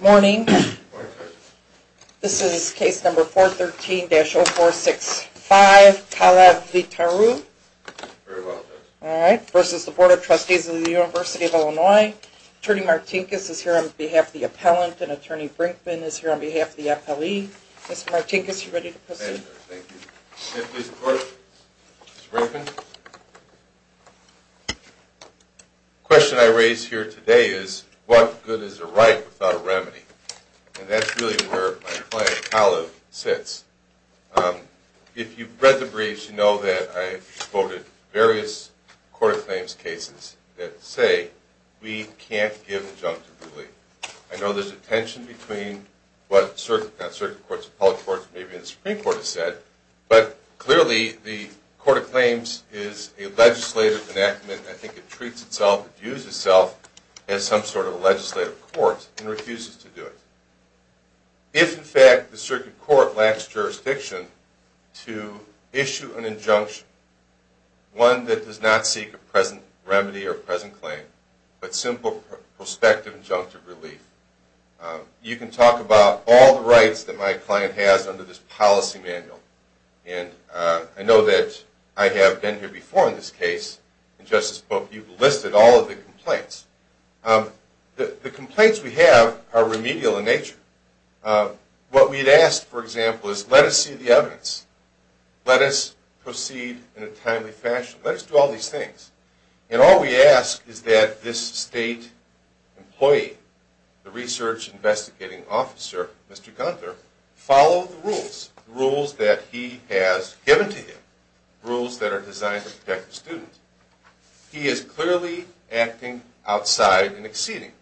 Morning. This is case number 413-0465, Kalev Leetaru v. Board of Trustees of the University of Illinois. Attorney Martinkus is here on behalf of the appellant and Attorney Brinkman is here on behalf of the appellee. Mr. Martinkus, are you ready to proceed? Yes, thank you. Can I please report, Mr. Brinkman? The question I raise here today is, what good is a right without a remedy? And that's really where my client, Kalev, sits. If you've read the briefs, you know that I've quoted various court of claims cases that say we can't give injunctive ruling. I know there's a tension between what certain courts, public courts, maybe the Supreme Court has said, but clearly the court of claims is a legislative enactment. I think it treats itself, views itself, as some sort of a legislative court and refuses to do it. If, in fact, the circuit court lacks jurisdiction to issue an injunction, one that does not seek a present remedy or present claim, but simple prospective injunctive relief, you can talk about all the rights that my client has under this policy manual. And I know that I have been here before in this case. In Justice's book, you've listed all of the complaints. The complaints we have are remedial in nature. What we'd ask, for example, is let us see the evidence. Let us proceed in a timely fashion. Let us do all these things. And all we ask is that this state employee, the research investigating officer, Mr. Gunther, follow the rules, rules that he has given to him, rules that are designed to protect the student. He is clearly acting outside and exceeding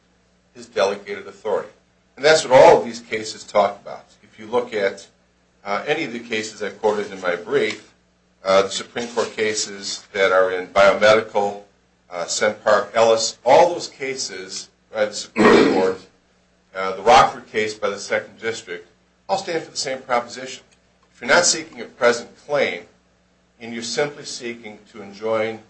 his delegated authority. And that's what all of these cases talk about. If you look at any of the cases I quoted in my brief, the Supreme Court cases that are in biomedical, Sennpark, Ellis, all those cases by the Supreme Court, the Rockford case by the Second District, all stand for the same proposition. If you're not seeking a present claim and you're simply seeking to enjoin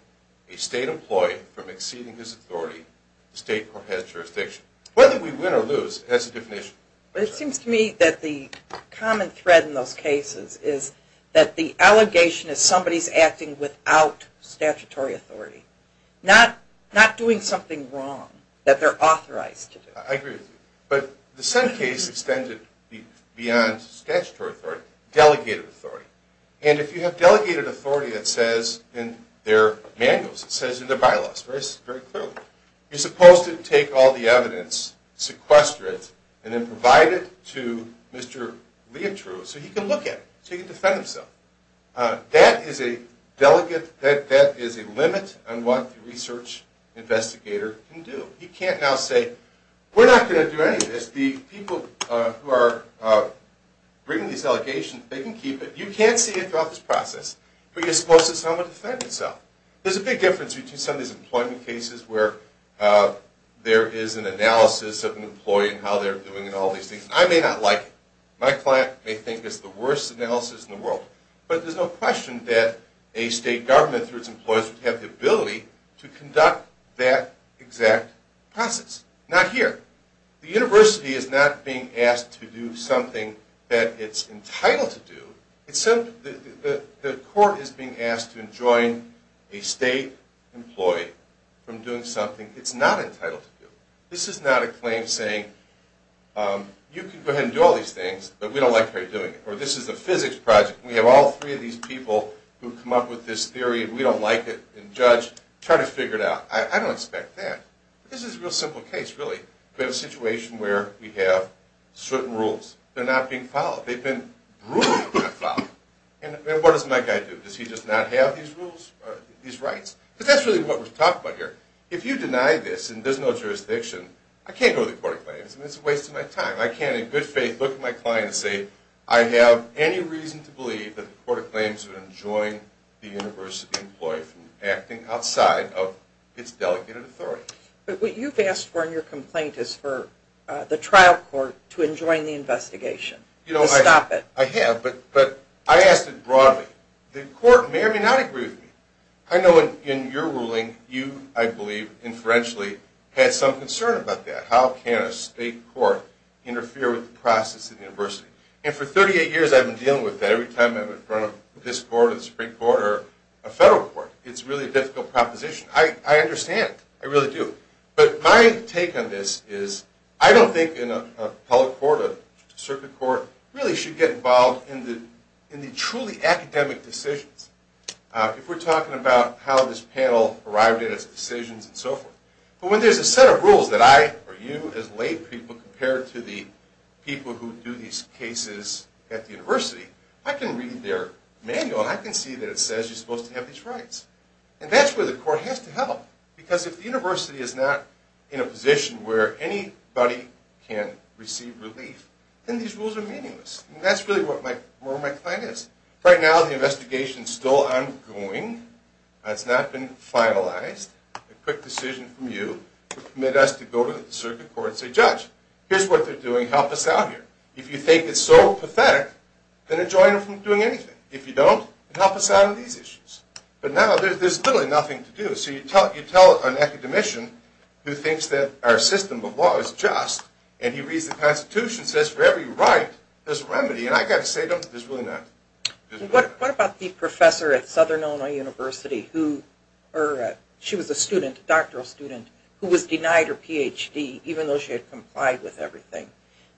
a state employee from exceeding his authority, the state court has jurisdiction. Whether we win or lose, that's a different issue. But it seems to me that the common thread in those cases is that the allegation is somebody's acting without statutory authority, not doing something wrong that they're authorized to do. I agree with you. But the Senn case extended beyond statutory authority, delegated authority. And if you have delegated authority that says in their manuals, it says in their bylaws very clearly, you're supposed to take all the evidence, sequester it, and then provide it to Mr. Leitroux so he can look at it, so he can defend himself. That is a limit on what the research investigator can do. He can't now say, we're not going to do any of this. The people who are bringing these allegations, they can keep it. You can't see it throughout this process. But you're supposed to somehow defend yourself. There's a big difference between some of these employment cases where there is an analysis of an employee and how they're doing and all these things. I may not like it. My client may think it's the worst analysis in the world. But there's no question that a state government through its employers would have the ability to conduct that exact process. Not here. The university is not being asked to do something that it's entitled to do. The court is being asked to enjoin a state employee from doing something it's not entitled to do. This is not a claim saying, you can go ahead and do all these things, but we don't like how you're doing it. Or this is a physics project. We have all three of these people who have come up with this theory and we don't like it and judge. Try to figure it out. I don't expect that. But this is a real simple case, really. We have a situation where we have certain rules. They're not being followed. They've been ruled not followed. And what does my guy do? Does he just not have these rules, these rights? Because that's really what we're talking about here. If you deny this and there's no jurisdiction, I can't go to the court of claims and it's a waste of my time. I can't in good faith look at my client and say, I have any reason to believe that the court of claims would enjoin the university employee from acting outside of its delegated authority. But what you've asked for in your complaint is for the trial court to enjoin the investigation. To stop it. I have, but I asked it broadly. The court may or may not agree with me. I know in your ruling, you, I believe, inferentially, had some concern about that. How can a state court interfere with the process at the university? And for 38 years I've been dealing with that every time I'm in front of this court or the Supreme Court or a federal court. It's really a difficult proposition. I understand. I really do. But my take on this is, I don't think an appellate court, a circuit court, really should get involved in the truly academic decisions. If we're talking about how this panel arrived at its decisions and so forth. But when there's a set of rules that I, or you, as lay people, compare to the people who do these cases at the university, I can read their manual and I can see that it says you're supposed to have these rights. And that's where the court has to help. Because if the university is not in a position where anybody can receive relief, then these rules are meaningless. And that's really where my client is. Right now the investigation is still ongoing. It's not been finalized. A quick decision from you to permit us to go to the circuit court and say, Judge, here's what they're doing. Help us out here. If you think it's so pathetic, then enjoin them from doing anything. If you don't, then help us out on these issues. But now there's literally nothing to do. So you tell an academician who thinks that our system of law is just, and he reads the Constitution and says, for every right, there's a remedy. And I've got to say to him, there's really not. What about the professor at Southern Illinois University who, she was a student, a doctoral student, who was denied her Ph.D. even though she had complied with everything.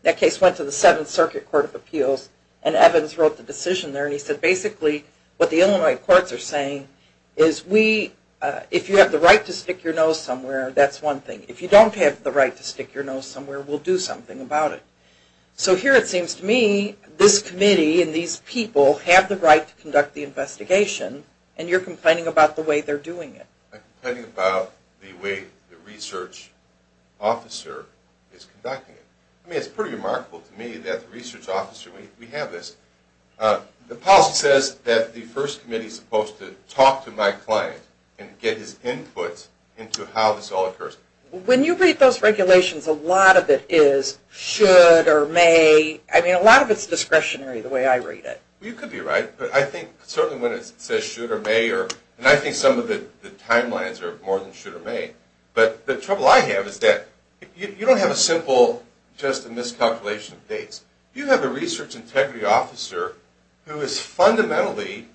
That case went to the Seventh Circuit Court of Appeals and Evans wrote the decision there and he said basically what the Illinois courts are saying is we, if you have the right to stick your nose somewhere, that's one thing. If you don't have the right to stick your nose somewhere, we'll do something about it. So here it seems to me, this committee and these people have the right to conduct the investigation and you're complaining about the way they're doing it. I'm complaining about the way the research officer is conducting it. I mean, it's pretty remarkable to me that the research officer, we have this. The policy says that the first committee is supposed to talk to my client and get his input into how this all occurs. When you read those regulations, a lot of it is should or may. I mean, a lot of it is discretionary the way I read it. You could be right, but I think certainly when it says should or may, and I think some of the timelines are more than should or may, but the trouble I have is that you don't have a simple just a miscalculation of dates. You have a research integrity officer who is fundamentally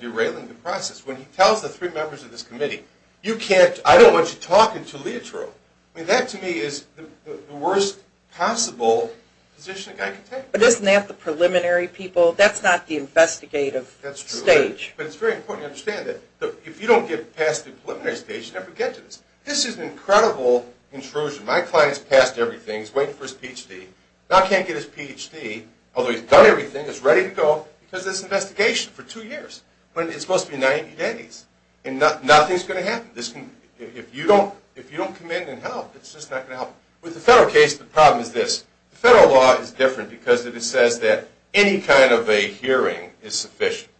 derailing the process. When he tells the three members of this committee, you can't, I don't want you talking to Leotro. I mean, that to me is the worst possible position a guy can take. But isn't that the preliminary people? That's not the investigative stage. But it's very important to understand that if you don't get past the preliminary stage, you never get to this. This is an incredible intrusion. My client's passed everything. He's waiting for his Ph.D. Now he can't get his Ph.D., although he's done everything, he's ready to go because of this investigation for two years. It's supposed to be 90 days, and nothing's going to happen. If you don't come in and help, it's just not going to help. With the federal case, the problem is this. The federal law is different because it says that any kind of a hearing is sufficient.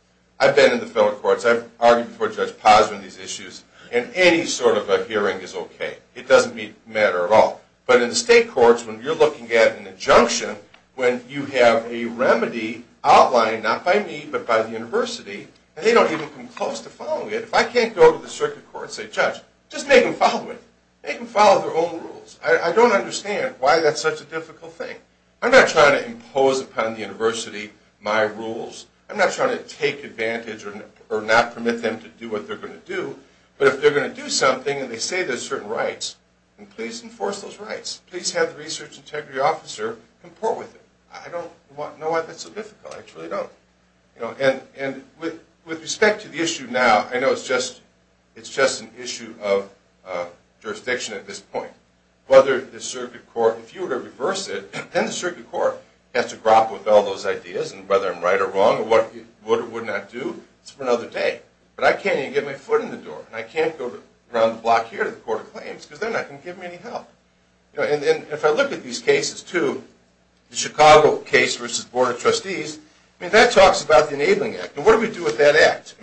I've been in the federal courts. I've argued before Judge Posner on these issues, and any sort of a hearing is okay. It doesn't matter at all. But in the state courts, when you're looking at an injunction, when you have a remedy outlined, not by me, but by the university, and they don't even come close to following it, if I can't go to the circuit court and say, Judge, just make them follow it. Make them follow their own rules. I don't understand why that's such a difficult thing. I'm not trying to impose upon the university my rules. I'm not trying to take advantage or not permit them to do what they're going to do. But if they're going to do something, and they say there's certain rights, then please enforce those rights. Please have the research integrity officer comport with it. I don't know why that's so difficult. I truly don't. With respect to the issue now, I know it's just an issue of jurisdiction at this point. If you were to reverse it, then the circuit court has to grapple with all those ideas, and whether I'm right or wrong, or what it would or would not do, it's for another day. But I can't even get my foot in the door, and I can't go around the block here to the court of claims, because they're not going to give me any help. If I look at these cases, too, the Chicago case versus the Board of Trustees, that talks about the Enabling Act. What do we do with that act?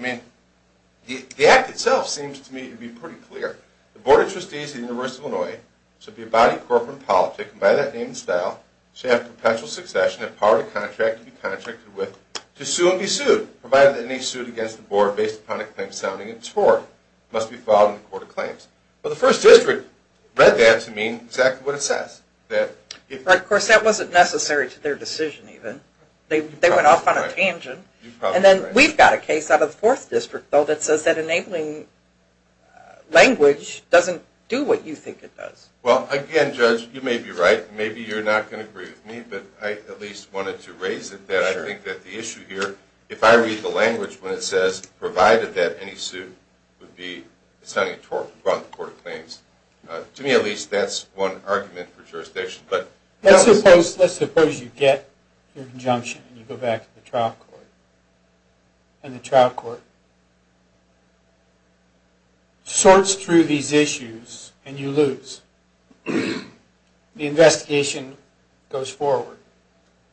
The act itself seems to me to be pretty clear. The Board of Trustees of the University of Illinois should be a body of corporate and politic, and by that name and style, should have perpetual succession and power to contract and be contracted with, to sue and be sued, provided that any suit against the Board based upon a claim sounding in its court must be filed in the court of claims. Well, the First District read that to mean exactly what it says. Of course, that wasn't necessary to their decision, even. They went off on a tangent. And then we've got a case out of the Fourth District, though, that says that enabling language doesn't do what you think it does. Well, again, Judge, you may be right. Maybe you're not going to agree with me, but I at least wanted to raise it that I think that the issue here, if I read the language when it says, provided that any suit would be sounding in the court of claims, to me at least that's one argument for jurisdiction. Let's suppose you get your injunction and you go back to the trial court, and the trial court sorts through these issues and you lose. The investigation goes forward.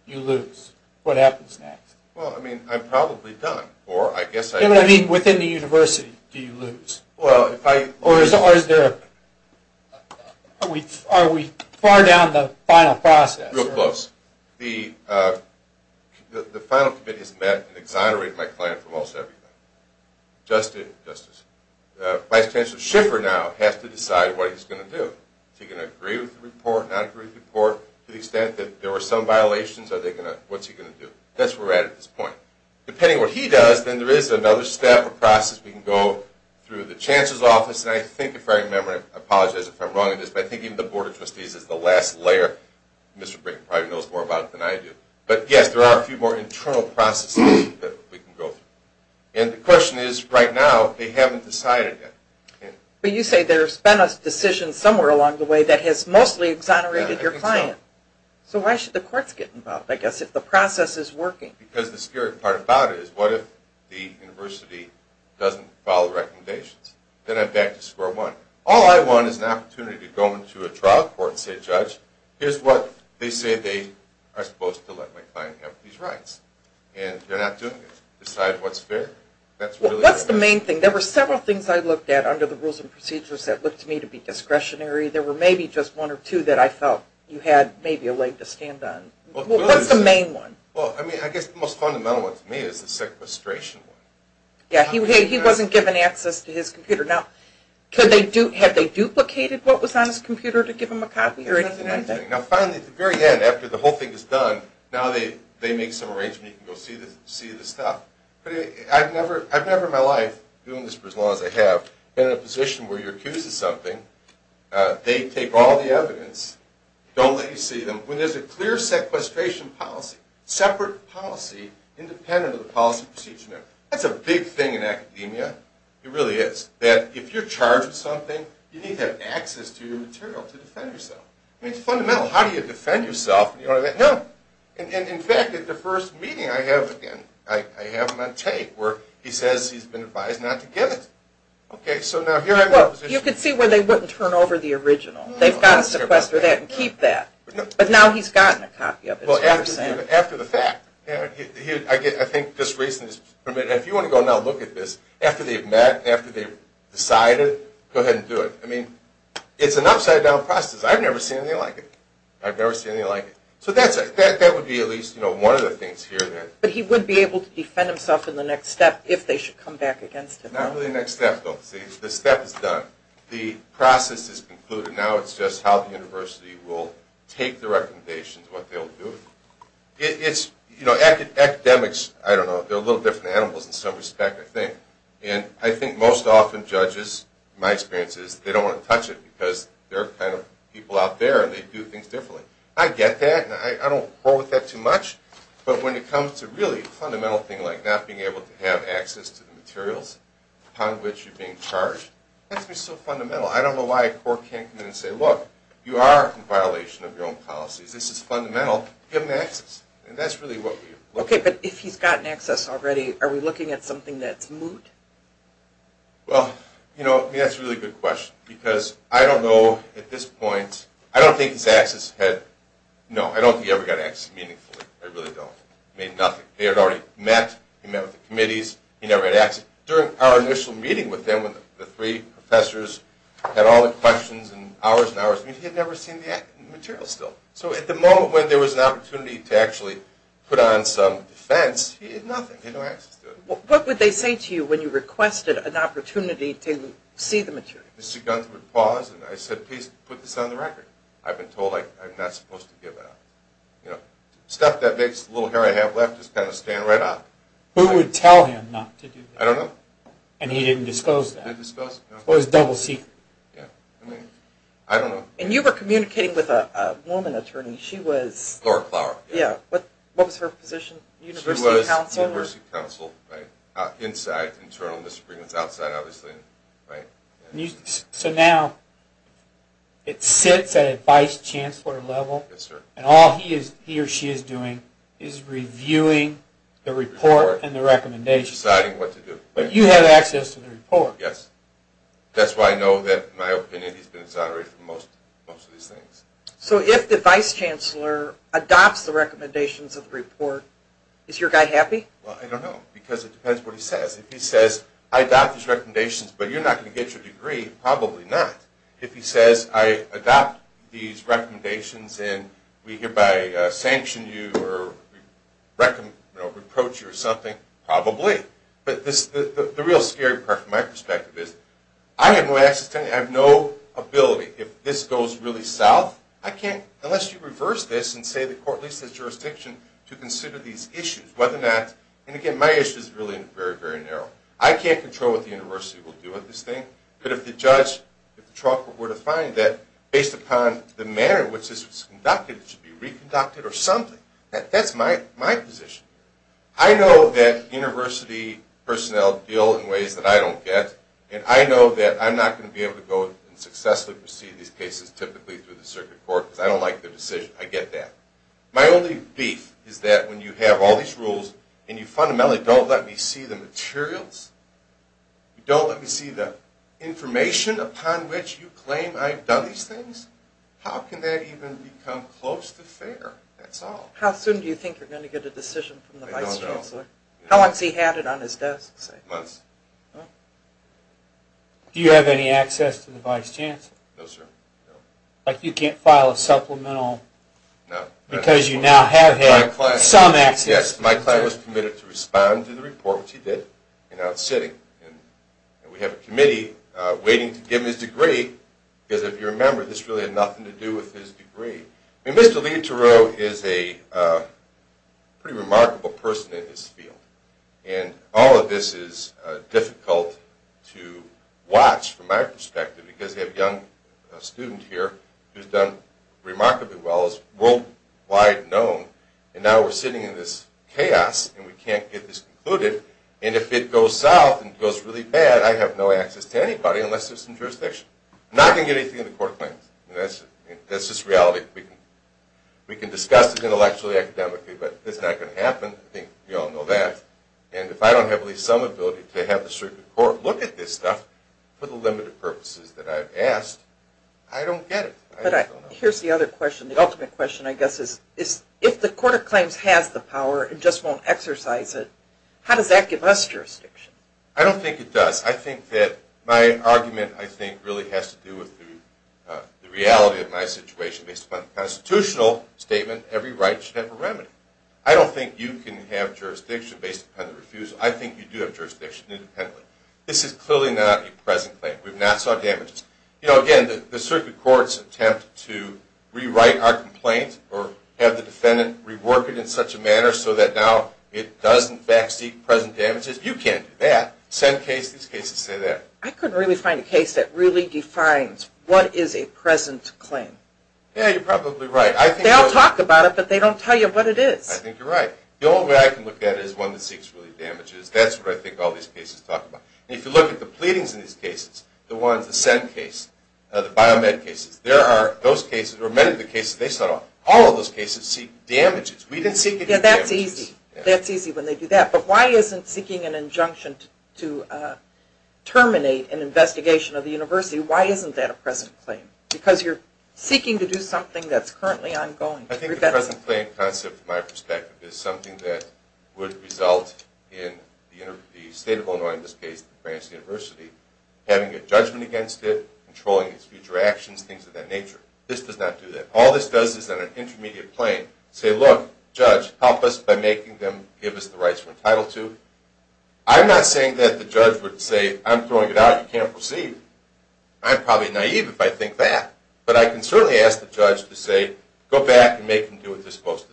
You lose. What happens next? Well, I mean, I'm probably done, or I guess I... Yeah, but I mean, within the university, do you lose? Well, if I... Or is there a... Are we far down the final process? Real close. The final committee has met and exonerated my client for most everything. Justice, Vice Chancellor Schiffer now has to decide what he's going to do. Is he going to agree with the report, not agree with the report, to the extent that there were some violations? Are they going to... What's he going to do? That's where we're at at this point. Depending on what he does, then there is another step or process we can go through the Chancellor's Office, and I think, if I remember, I apologize if I'm wrong on this, but I think even the Board of Trustees is the last layer. Mr. Brink probably knows more about it than I do. But yes, there are a few more internal processes that we can go through. And the question is, right now, they haven't decided yet. But you say there's been a decision somewhere along the way that has mostly exonerated your client. So why should the courts get involved, I guess, if the process is working? Because the scary part about it is, what if the university doesn't follow the recommendations? Then I'm back to square one. All I want is an opportunity to go into a trial court and say, Judge, here's what they say they are supposed to let my client have these rights. And they're not doing it. Decide what's fair. What's the main thing? There were several things I looked at under the Rules and Procedures that looked to me to be discretionary. There were maybe just one or two that I felt you had maybe a leg to stand on. What's the main one? Well, I guess the most fundamental one to me is the sequestration one. Yeah, he wasn't given access to his computer. Now, had they duplicated what was on his computer to give him a copy or anything like that? Nothing like that. Now, finally, at the very end, after the whole thing is done, now they make some arrangement, you can go see the stuff. But I've never in my life, doing this for as long as I have, been in a position where you're accused of something, they take all the evidence, don't let you see them, when there's a clear sequestration policy, separate policy independent of the policy procedure. That's a big thing in academia. It really is. That if you're charged with something, you need to have access to your material to defend yourself. I mean, it's fundamental. How do you defend yourself? No. And in fact, at the first meeting I have him on tape where he says he's been advised not to give it. Okay, so now here I'm in a position... Well, you can see where they wouldn't turn over the original. They've got to sequester that and keep that. But now he's gotten a copy of it. Well, after the fact, I think this reason is, if you want to go now look at this, after they've met, after they've decided, go ahead and do it. I mean, it's an upside down process. I've never seen anything like it. I've never seen anything like it. So that would be at least one of the things here. But he would be able to defend himself in the next step if they should come back against him. Not really the next step, though. See, the step is done. The process is concluded. Now it's just how the university will take the recommendations, what they'll do. It's, you know, academics, I don't know, they're a little different animals in some respect, I think. And I think most often judges, in my experience, they don't want to touch it because they're kind of people out there and they do things differently. I get that and I don't quarrel with that too much. But when it comes to really a fundamental thing like not being able to have access to the materials upon which you're being charged, that's just so fundamental. I don't know why a court can't come in and say, look, you are in violation of your own policies. This is fundamental. Give him access. And that's really what we look for. Okay, but if he's gotten access already, are we looking at something that's moot? Well, you know, that's a really good question because I don't know, at this point, I don't think he ever got access meaningfully. I really don't. He had already met, he met with the committees, he never had access. During our initial meeting with him, when the three professors had all the questions and hours and hours, he had never seen the material still. So at the moment when there was an opportunity to actually put on some defense, he had nothing, he had no access to it. What would they say to you when you requested an opportunity to see the material? Mr. Gunther would pause and I said, please put this on the record. I've been told I'm not supposed to give it out. You know, stuff that makes the little hair I have left just kind of stand right up. Who would tell him not to do that? I don't know. And he didn't disclose that? He didn't disclose it, no. It was double secret. Yeah, I mean, I don't know. And you were communicating with a woman attorney, she was... Laura Klauer. Yeah, what was her position? University Counsel? She was University Counsel, right. Inside, internal misdemeanors, outside, obviously. So now, it sits at a Vice Chancellor level. Yes, sir. And all he or she is doing is reviewing the report and the recommendations. Deciding what to do. But you have access to the report. Yes. That's why I know that, in my opinion, he's been exonerated for most of these things. So if the Vice Chancellor adopts the recommendations of the report, is your guy happy? Well, I don't know, because it depends what he says. If he says, I adopt these recommendations, but you're not going to get your degree, probably not. If he says, I adopt these recommendations and we hereby sanction you or reproach you or something, probably. But the real scary part, from my perspective, is I have no access to anything. I have no ability. If this goes really south, I can't, unless you reverse this and say the court leaves the jurisdiction to consider these issues. Whether or not, and again, my issue is really very, very narrow. I can't control what the university will do with this thing. But if the judge, if the trucker, were to find that, based upon the manner in which this was conducted, it should be reconducted or something. That's my position. I know that university personnel deal in ways that I don't get. And I know that I'm not going to be able to go and successfully proceed these cases, typically through the circuit court, because I don't like their decision. I get that. My only beef is that when you have all these rules and you fundamentally don't let me see the materials, you don't let me see the information upon which you claim I've done these things, how can that even become close to fair? That's all. How soon do you think you're going to get a decision from the vice chancellor? I don't know. How once he had it on his desk, say? Months. Do you have any access to the vice chancellor? No, sir. Like you can't file a supplemental? No. Because you now have had some access. Yes. My client was committed to respond to the report, which he did, and now it's sitting. And we have a committee waiting to give him his degree, because if you remember, this really had nothing to do with his degree. I mean, Mr. Leiterow is a pretty remarkable person in this field. And all of this is difficult to watch, from my perspective, because you have a young student here who's done remarkably well, is worldwide known, and now we're sitting in this chaos, and we can't get this concluded. And if it goes south and goes really bad, I have no access to anybody unless there's some jurisdiction. I'm not going to get anything in the court claims. That's just reality. We can discuss it intellectually, academically, but it's not going to happen. I think we all know that. And if I don't have at least some ability to have the circuit court look at this stuff, for the limited purposes that I've asked, I don't get it. Here's the other question. The ultimate question, I guess, is if the court of claims has the power and just won't exercise it, how does that give us jurisdiction? I don't think it does. I think that my argument, I think, really has to do with the reality of my situation. Based upon the constitutional statement, every right should have a remedy. I don't think you can have jurisdiction based upon the refusal. I think you do have jurisdiction independently. This is clearly not a present claim. We've not sought damages. Again, the circuit courts attempt to rewrite our complaint or have the defendant rework it in such a manner so that now it doesn't back-seek present damages. You can't do that. Same case, these cases say that. I couldn't really find a case that really defines what is a present claim. Yeah, you're probably right. They all talk about it, but they don't tell you what it is. I think you're right. The only way I can look at it is one that seeks really damages. That's what I think all these cases talk about. If you look at the pleadings in these cases, the ones, the Senn case, the biomed cases, there are those cases, or many of the cases they set off, all of those cases seek damages. We didn't seek any damages. Yeah, that's easy. That's easy when they do that. But why isn't seeking an injunction to terminate an investigation of the university, why isn't that a present claim? Because you're seeking to do something that's currently ongoing. I think the present claim concept, from my perspective, is something that would result in the state of Illinois, in this case the France University, having a judgment against it, controlling its future actions, things of that nature. This does not do that. All this does is, on an intermediate plane, say, look, judge, help us by making them give us the rights we're entitled to. I'm not saying that the judge would say, I'm throwing it out, you can't proceed. I'm probably naive if I think that. But I can certainly ask the judge to say, go back and make them do what they're supposed to do.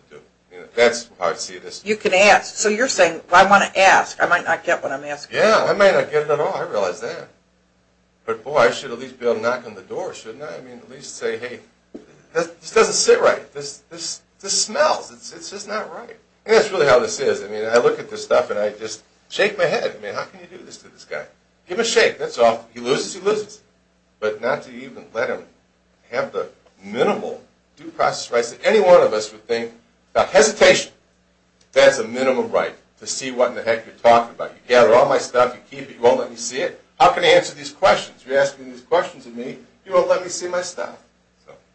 That's how I see this. You can ask. So you're saying, I want to ask. I might not get what I'm asking. Yeah, I might not get it at all. I realize that. But, boy, I should at least be able to knock on the door, shouldn't I? At least say, hey, this doesn't sit right. This smells. This is not right. That's really how this is. I look at this stuff and I just shake my head. How can you do this to this guy? Give him a shake. He loses, he loses. But not to even let him have the minimal due process rights that any one of us would think about. Hesitation. That's a minimal right. To see what in the heck you're talking about. You gather all my stuff, you keep it, you won't let me see it. How can I answer these questions? You're asking these questions of me, you won't let me see my stuff.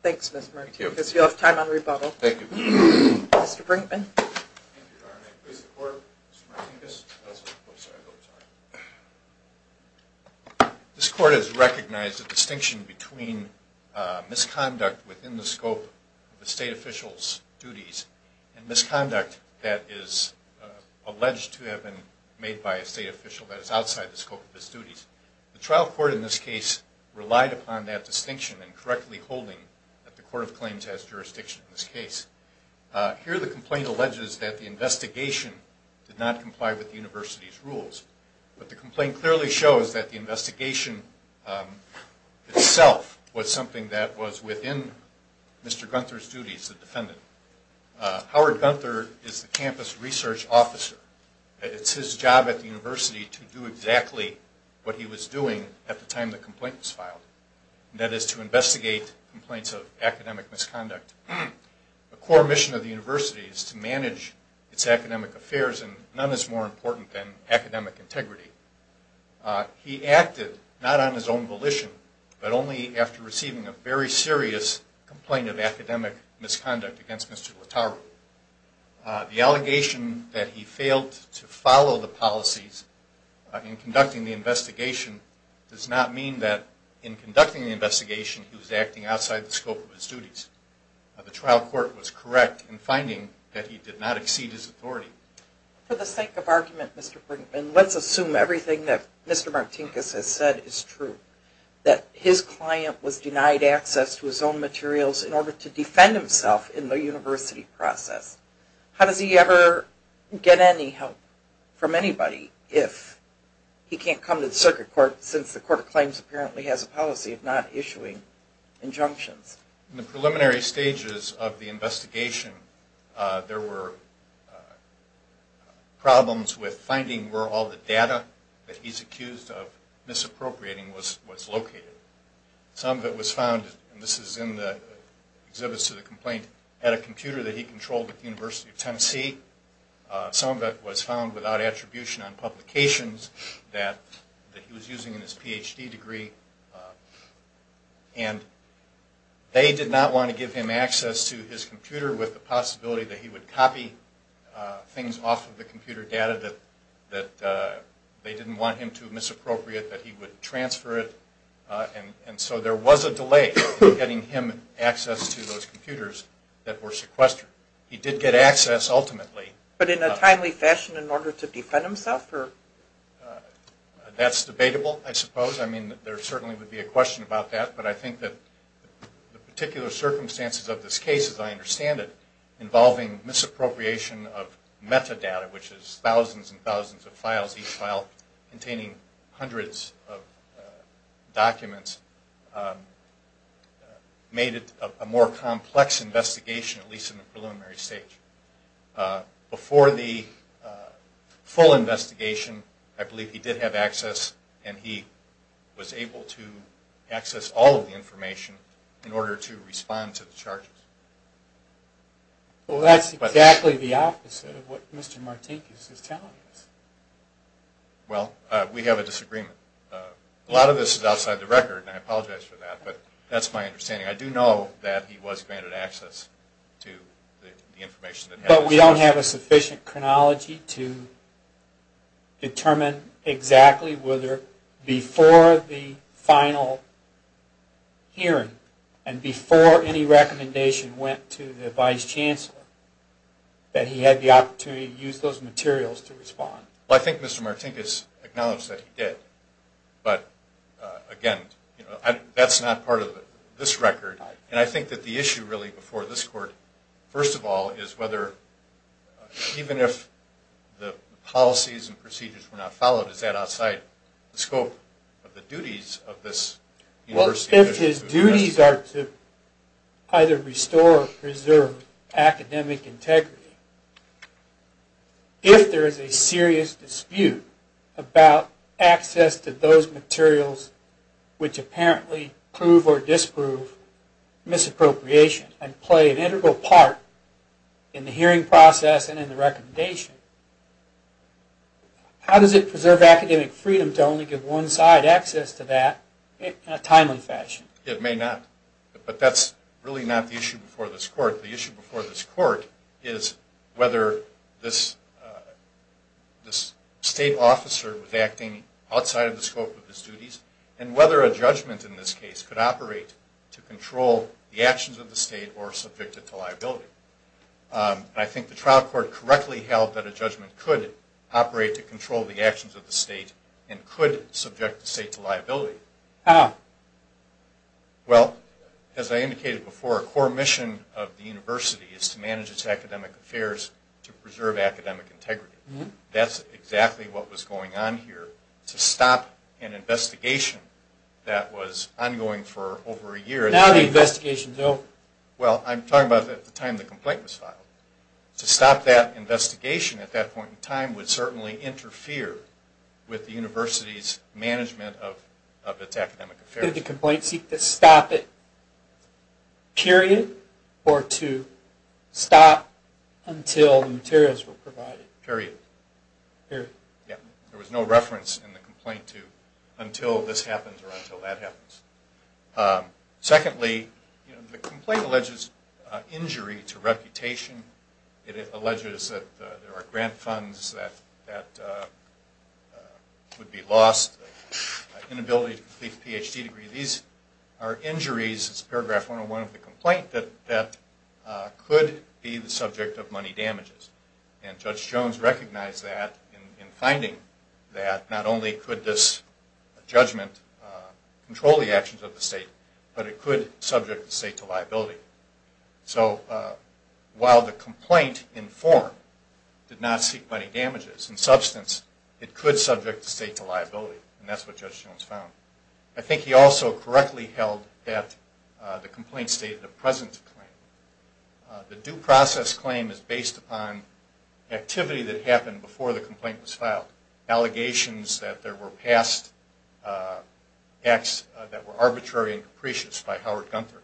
Thanks, Mr. Martinez. You'll have time on rebuttal. Thank you. Mr. Brinkman. Thank you, Your Honor. I praise the court. Mr. Martinez. I'm sorry. I'm sorry. This court has recognized the distinction between misconduct within the scope of a state official's duties and misconduct that is alleged to have been made by a state official that is outside the scope of his duties. The trial court in this case relied upon that distinction and correctly holding that the court of claims has jurisdiction in this case. Here the complaint alleges that the investigation did not comply with the university's rules. But the complaint clearly shows that the investigation itself was something that was within Mr. Gunther's duties, the defendant. Howard Gunther is the campus research officer. It's his job at the university to do exactly what he was doing at the time the complaint was filed, and that is to investigate complaints of academic misconduct. The core mission of the university is to manage its academic affairs, and none is more important than academic integrity. He acted not on his own volition, but only after receiving a very serious complaint of academic misconduct against Mr. Lattaro. The allegation that he failed to follow the policies in conducting the investigation does not mean that in conducting the investigation he was acting outside the scope of his duties. The trial court was correct in finding that he did not exceed his authority. For the sake of argument, Mr. Brinkman, let's assume everything that Mr. Martinkus has said is true, that his client was denied access to his own materials in order to defend himself in the university process. How does he ever get any help from anybody if he can't come to the circuit court, since the court of claims apparently has a policy of not issuing injunctions? In the preliminary stages of the investigation, there were problems with finding where all the data that he's accused of misappropriating was located. Some of it was found, and this is in the exhibits to the complaint, at a computer that he controlled at the University of Tennessee. Some of it was found without attribution on publications that he was using in his Ph.D. degree. And they did not want to give him access to his computer with the possibility that he would copy things off of the computer data that they didn't want him to misappropriate, that he would transfer it. And so there was a delay in getting him access to those computers that were sequestered. He did get access, ultimately. But in a timely fashion in order to defend himself? That's debatable, I suppose. I mean, there certainly would be a question about that. But I think that the particular circumstances of this case, as I understand it, involving misappropriation of metadata, which is thousands and thousands of files, each file containing hundreds of documents, made it a more complex investigation, at least in the preliminary stage. Before the full investigation, I believe he did have access and he was able to access all of the information in order to respond to the charges. Well, that's exactly the opposite of what Mr. Martinkus is telling us. Well, we have a disagreement. A lot of this is outside the record, and I apologize for that, but that's my understanding. I do know that he was granted access to the information. But we don't have a sufficient chronology to determine exactly whether before the final hearing and before any recommendation went to the Vice Chancellor that he had the opportunity to use those materials to respond. Well, I think Mr. Martinkus acknowledged that he did. But, again, that's not part of this record. And I think that the issue really before this court, first of all, is whether even if the policies and procedures were not followed, is that outside the scope of the duties of this university. Well, if his duties are to either restore or preserve academic integrity, if there is a serious dispute about access to those materials which apparently prove or disprove misappropriation and play an integral part in the hearing process and in the recommendation, how does it preserve academic freedom to only give one side access to that in a timely fashion? It may not. But that's really not the issue before this court. The issue before this court is whether this state officer was acting outside of the scope of his duties and whether a judgment in this case could operate to control the actions of the state or subject it to liability. I think the trial court correctly held that a judgment could operate to control the actions of the state and could subject the state to liability. How? Well, as I indicated before, a core mission of the university is to manage its academic affairs to preserve academic integrity. That's exactly what was going on here. To stop an investigation that was ongoing for over a year... Now the investigation is over. Well, I'm talking about at the time the complaint was filed. To stop that investigation at that point in time would certainly interfere with the university's management of its academic affairs. Did the complaint seek to stop it, period, or to stop until the materials were provided? Period. Period. Yeah. There was no reference in the complaint to until this happens or until that happens. Secondly, the complaint alleges injury to reputation. It alleges that there are grant funds that would be lost, inability to complete a Ph.D. degree. These are injuries. It's paragraph 101 of the complaint that could be the subject of money damages. Judge Jones recognized that in finding that not only could this judgment control the actions of the state, but it could subject the state to liability. So while the complaint in form did not seek money damages, in substance it could subject the state to liability. And that's what Judge Jones found. I think he also correctly held that the complaint stated a presence claim. The due process claim is based upon activity that happened before the complaint was filed. Allegations that there were past acts that were arbitrary and capricious by Howard Gunther.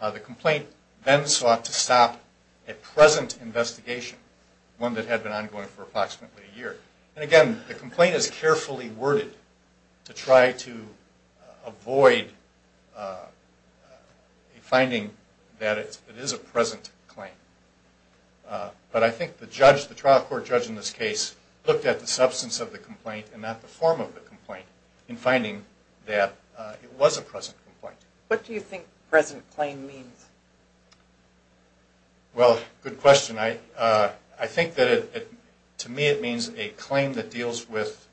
The complaint then sought to stop a present investigation, one that had been ongoing for approximately a year. And, again, the complaint is carefully worded to try to avoid finding that it is a present claim. But I think the trial court judge in this case looked at the substance of the complaint and not the form of the complaint in finding that it was a present complaint. What do you think present claim means? Well, good question. I think that to me it means a claim that deals with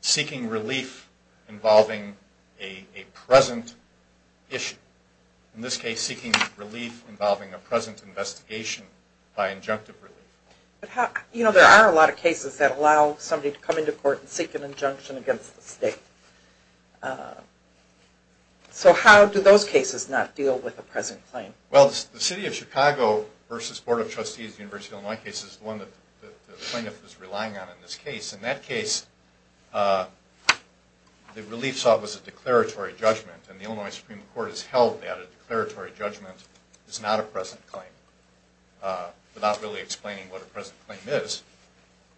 seeking relief involving a present issue. In this case, seeking relief involving a present investigation by injunctive relief. You know, there are a lot of cases that allow somebody to come into court and seek an injunction against the state. So how do those cases not deal with a present claim? Well, the City of Chicago versus Board of Trustees University of Illinois case is the one that the plaintiff is relying on in this case. In that case, the relief sought was a declaratory judgment. And the Illinois Supreme Court has held that a declaratory judgment is not a present claim. Without really explaining what a present claim is.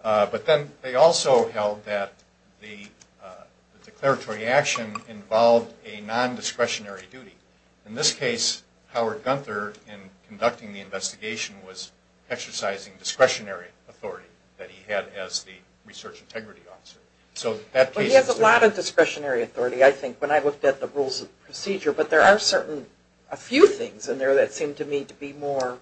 But then they also held that the declaratory action involved a non-discretionary duty. In this case, Howard Gunther, in conducting the investigation, was exercising discretionary authority that he had as the research integrity officer. He has a lot of discretionary authority, I think, when I looked at the rules of procedure. But there are a few things in there that seem to me to be more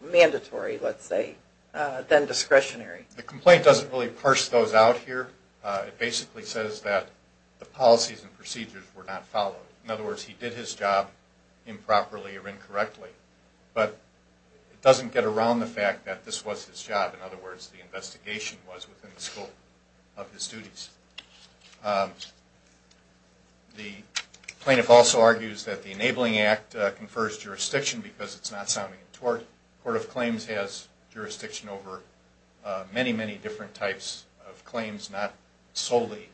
mandatory, let's say, than discretionary. The complaint doesn't really parse those out here. It basically says that the policies and procedures were not followed. In other words, he did his job improperly or incorrectly. But it doesn't get around the fact that this was his job. In other words, the investigation was within the scope of his duties. The plaintiff also argues that the Enabling Act confers jurisdiction because it's not sounding in tort. The Court of Claims has jurisdiction over many, many different types of claims, not solely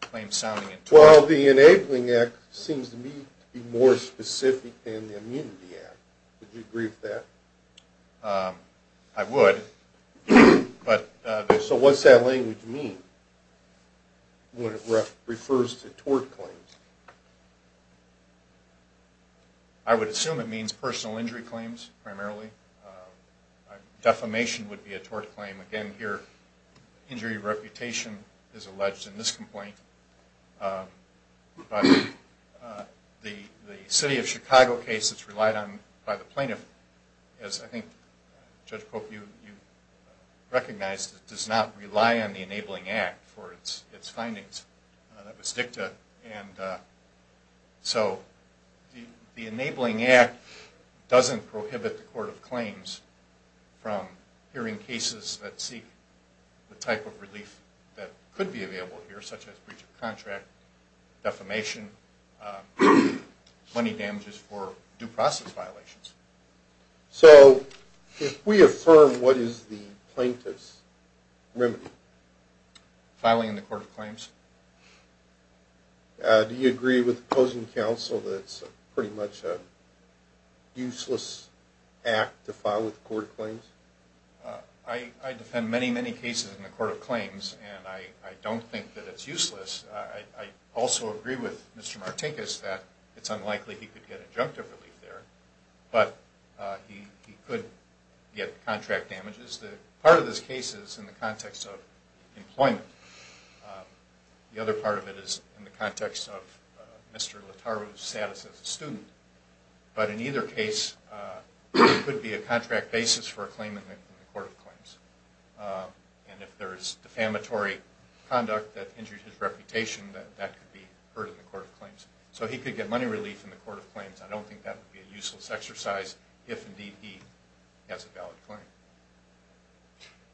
claims sounding in tort. Well, the Enabling Act seems to me to be more specific than the Immunity Act. Would you agree with that? I would. So what's that language mean? What it refers to, tort claims. I would assume it means personal injury claims, primarily. Defamation would be a tort claim. Again, here, injury reputation is alleged in this complaint. The City of Chicago case that's relied on by the plaintiff, as I think, Judge Pope, you recognize, does not rely on the Enabling Act for its findings. That was dicta, and so the Enabling Act doesn't prohibit the Court of Claims from hearing cases that seek the type of relief that could be available here, such as breach of contract, defamation, money damages for due process violations. So if we affirm what is the plaintiff's remedy? Filing in the Court of Claims. Do you agree with opposing counsel that it's pretty much a useless act to file with the Court of Claims? I defend many, many cases in the Court of Claims, and I don't think that it's useless. I also agree with Mr. Martinkus that it's unlikely he could get injunctive relief there, but he could get contract damages. Part of this case is in the context of employment. The other part of it is in the context of Mr. Letaru's status as a student. But in either case, it could be a contract basis for a claim in the Court of Claims. And if there's defamatory conduct that injures his reputation, that could be heard in the Court of Claims. So he could get money relief in the Court of Claims. I don't think that would be a useless exercise if, indeed, he has a valid claim.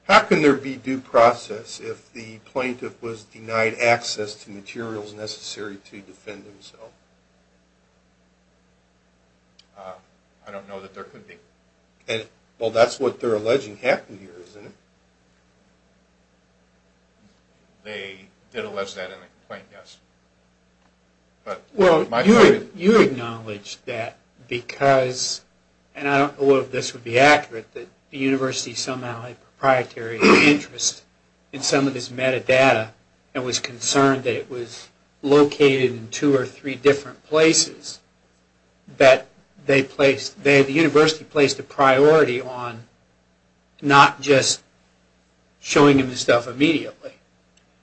How can there be due process if the plaintiff was denied access to materials necessary to defend himself? I don't know that there could be. Well, that's what they're alleging happened here, isn't it? They did allege that in the complaint, yes. Well, you acknowledged that because, and I don't know if this would be accurate, that the university somehow had a proprietary interest in some of this metadata and was concerned that it was located in two or three different places, that the university placed a priority on not just showing him the stuff immediately,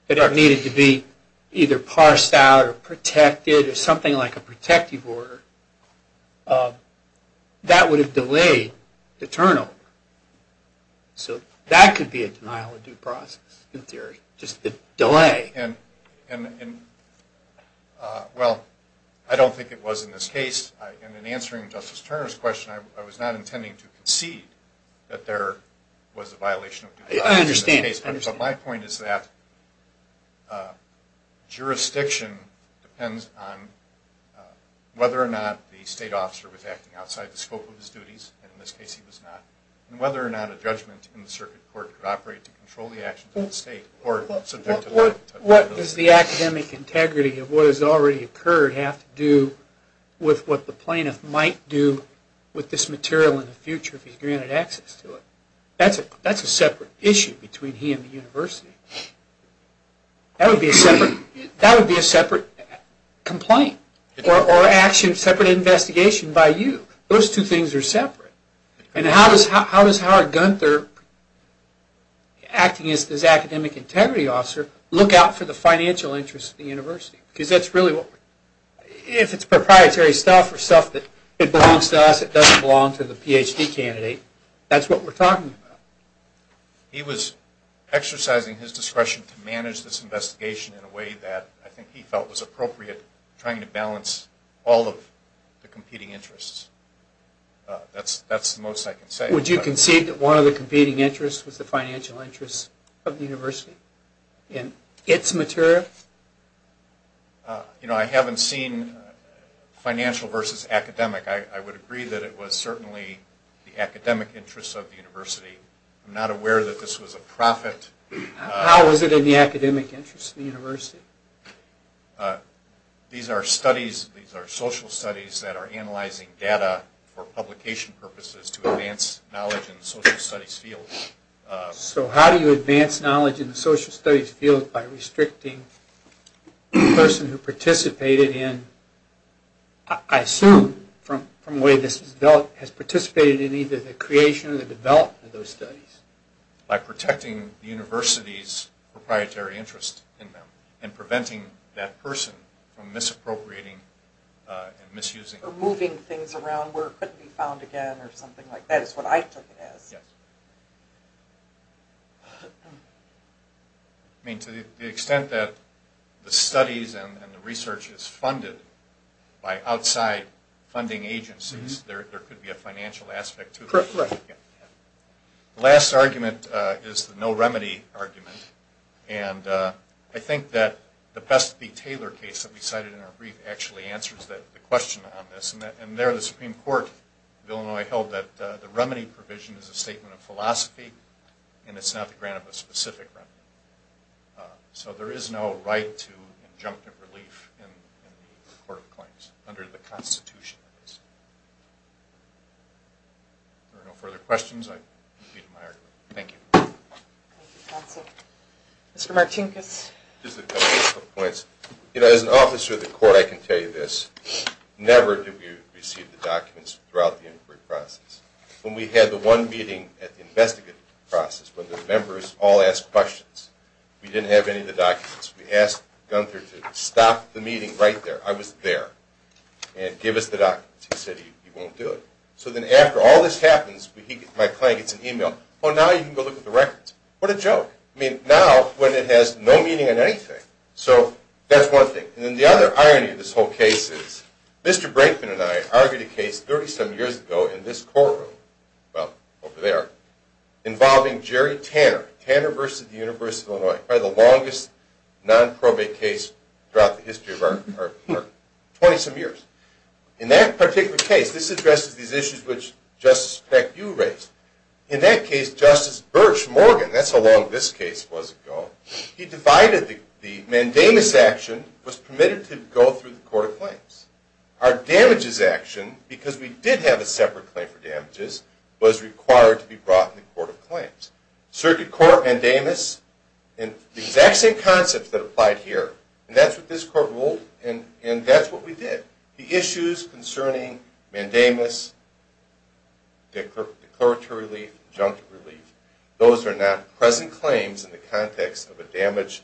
that it needed to be either parsed out or protected or something like a protective order. That would have delayed the turnover. So that could be a denial of due process, in theory, just the delay. And, well, I don't think it was in this case. And in answering Justice Turner's question, I was not intending to concede that there was a violation of due process in this case. I understand. But my point is that jurisdiction depends on whether or not the state officer was acting outside the scope of his duties, and in this case he was not, and whether or not a judgment in the circuit court could operate to control the actions of the state What does the academic integrity of what has already occurred have to do with what the plaintiff might do with this material in the future if he's granted access to it? That's a separate issue between he and the university. That would be a separate complaint or separate investigation by you. Those two things are separate. And how does Howard Gunther, acting as this academic integrity officer, look out for the financial interests of the university? Because that's really what we're... If it's proprietary stuff or stuff that belongs to us, it doesn't belong to the PhD candidate, that's what we're talking about. He was exercising his discretion to manage this investigation in a way that I think he felt was appropriate, trying to balance all of the competing interests. That's the most I can say. Would you concede that one of the competing interests was the financial interests of the university in its material? You know, I haven't seen financial versus academic. I would agree that it was certainly the academic interests of the university. I'm not aware that this was a profit. How is it in the academic interests of the university? These are studies, these are social studies that are analyzing data for publication purposes to advance knowledge in the social studies field. So how do you advance knowledge in the social studies field by restricting the person who participated in, I assume from the way this has developed, has participated in either the creation or the development of those studies? By protecting the university's proprietary interest in them and preventing that person from misappropriating and misusing. Or moving things around where it couldn't be found again or something like that is what I took it as. Yes. I mean, to the extent that the studies and the research is funded by outside funding agencies, there could be a financial aspect to it. Correct. The last argument is the no remedy argument. And I think that the Best v. Taylor case that we cited in our brief actually answers the question on this. And there the Supreme Court of Illinois held that the remedy provision is a statement of philosophy and it's not the grant of a specific remedy. So there is no right to injunctive relief in the Court of Claims, under the Constitution. If there are no further questions, I conclude my argument. Thank you. Thank you, counsel. Mr. Martinkus. Just a couple of points. You know, as an officer of the court, I can tell you this. Never did we receive the documents throughout the inquiry process. When we had the one meeting at the investigative process, when the members all asked questions, we didn't have any of the documents. We asked Gunther to stop the meeting right there. I was there. And give us the documents. He said he won't do it. So then after all this happens, my client gets an email. Oh, now you can go look at the records. What a joke. I mean, now when it has no meaning in anything. So that's one thing. And then the other irony of this whole case is Mr. Brinkman and I argued a case 37 years ago in this courtroom. Well, over there. Involving Jerry Tanner. Tanner v. The University of Illinois. Probably the longest non-probate case throughout the history of our court. 20-some years. In that particular case, this addresses these issues which Justice Peck, you raised. In that case, Justice Birch Morgan, that's how long this case was ago, he divided the mandamus action was permitted to go through the court of claims. Our damages action, because we did have a separate claim for damages, was required to be brought in the court of claims. Circuit court, mandamus, the exact same concepts that applied here. And that's what this court ruled, and that's what we did. The issues concerning mandamus, declaratory relief, injunctive relief, those are not present claims in the context of a damage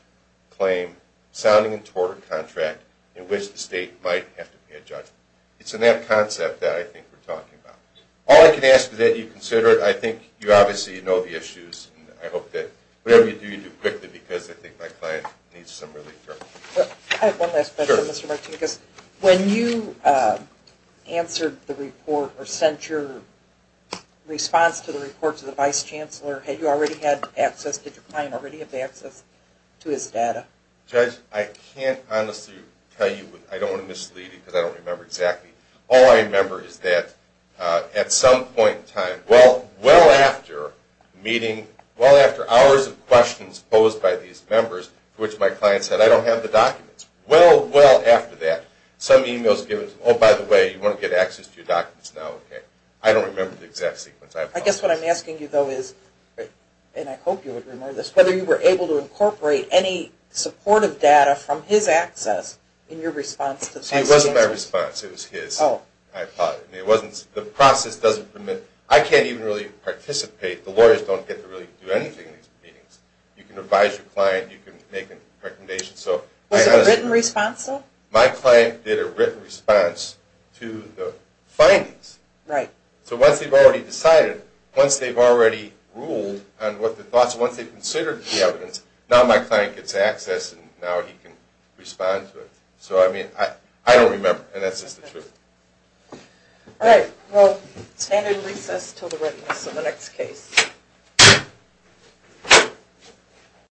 claim sounding toward a contract in which the state might have to pay a judgment. It's in that concept that I think we're talking about. All I can ask is that you consider it. I think you obviously know the issues. I hope that whatever you do, you do quickly because I think my client needs some relief. I have one last question, Mr. Martinez. When you answered the report or sent your response to the report to the vice chancellor, had you already had access, did your client already have access to his data? Judge, I can't honestly tell you. I don't want to mislead you because I don't remember exactly. All I remember is that at some point in time, well after meeting, well after hours of questions posed by these members to which my client said, I don't have the documents, well, well after that, some emails give us, oh, by the way, you want to get access to your documents now, okay. I don't remember the exact sequence. I guess what I'm asking you though is, and I hope you would remember this, whether you were able to incorporate any supportive data from his access in your response. It wasn't my response. It was his, I thought. The process doesn't permit. I can't even really participate. The lawyers don't get to really do anything in these meetings. You can advise your client. You can make a recommendation. Was it a written response though? My client did a written response to the findings. Right. So once they've already decided, once they've already ruled on what the thoughts are, once they've considered the evidence, now my client gets access and now he can respond to it. So, I mean, I don't remember, and that's just the truth. All right. Well, standard recess until the readiness of the next case.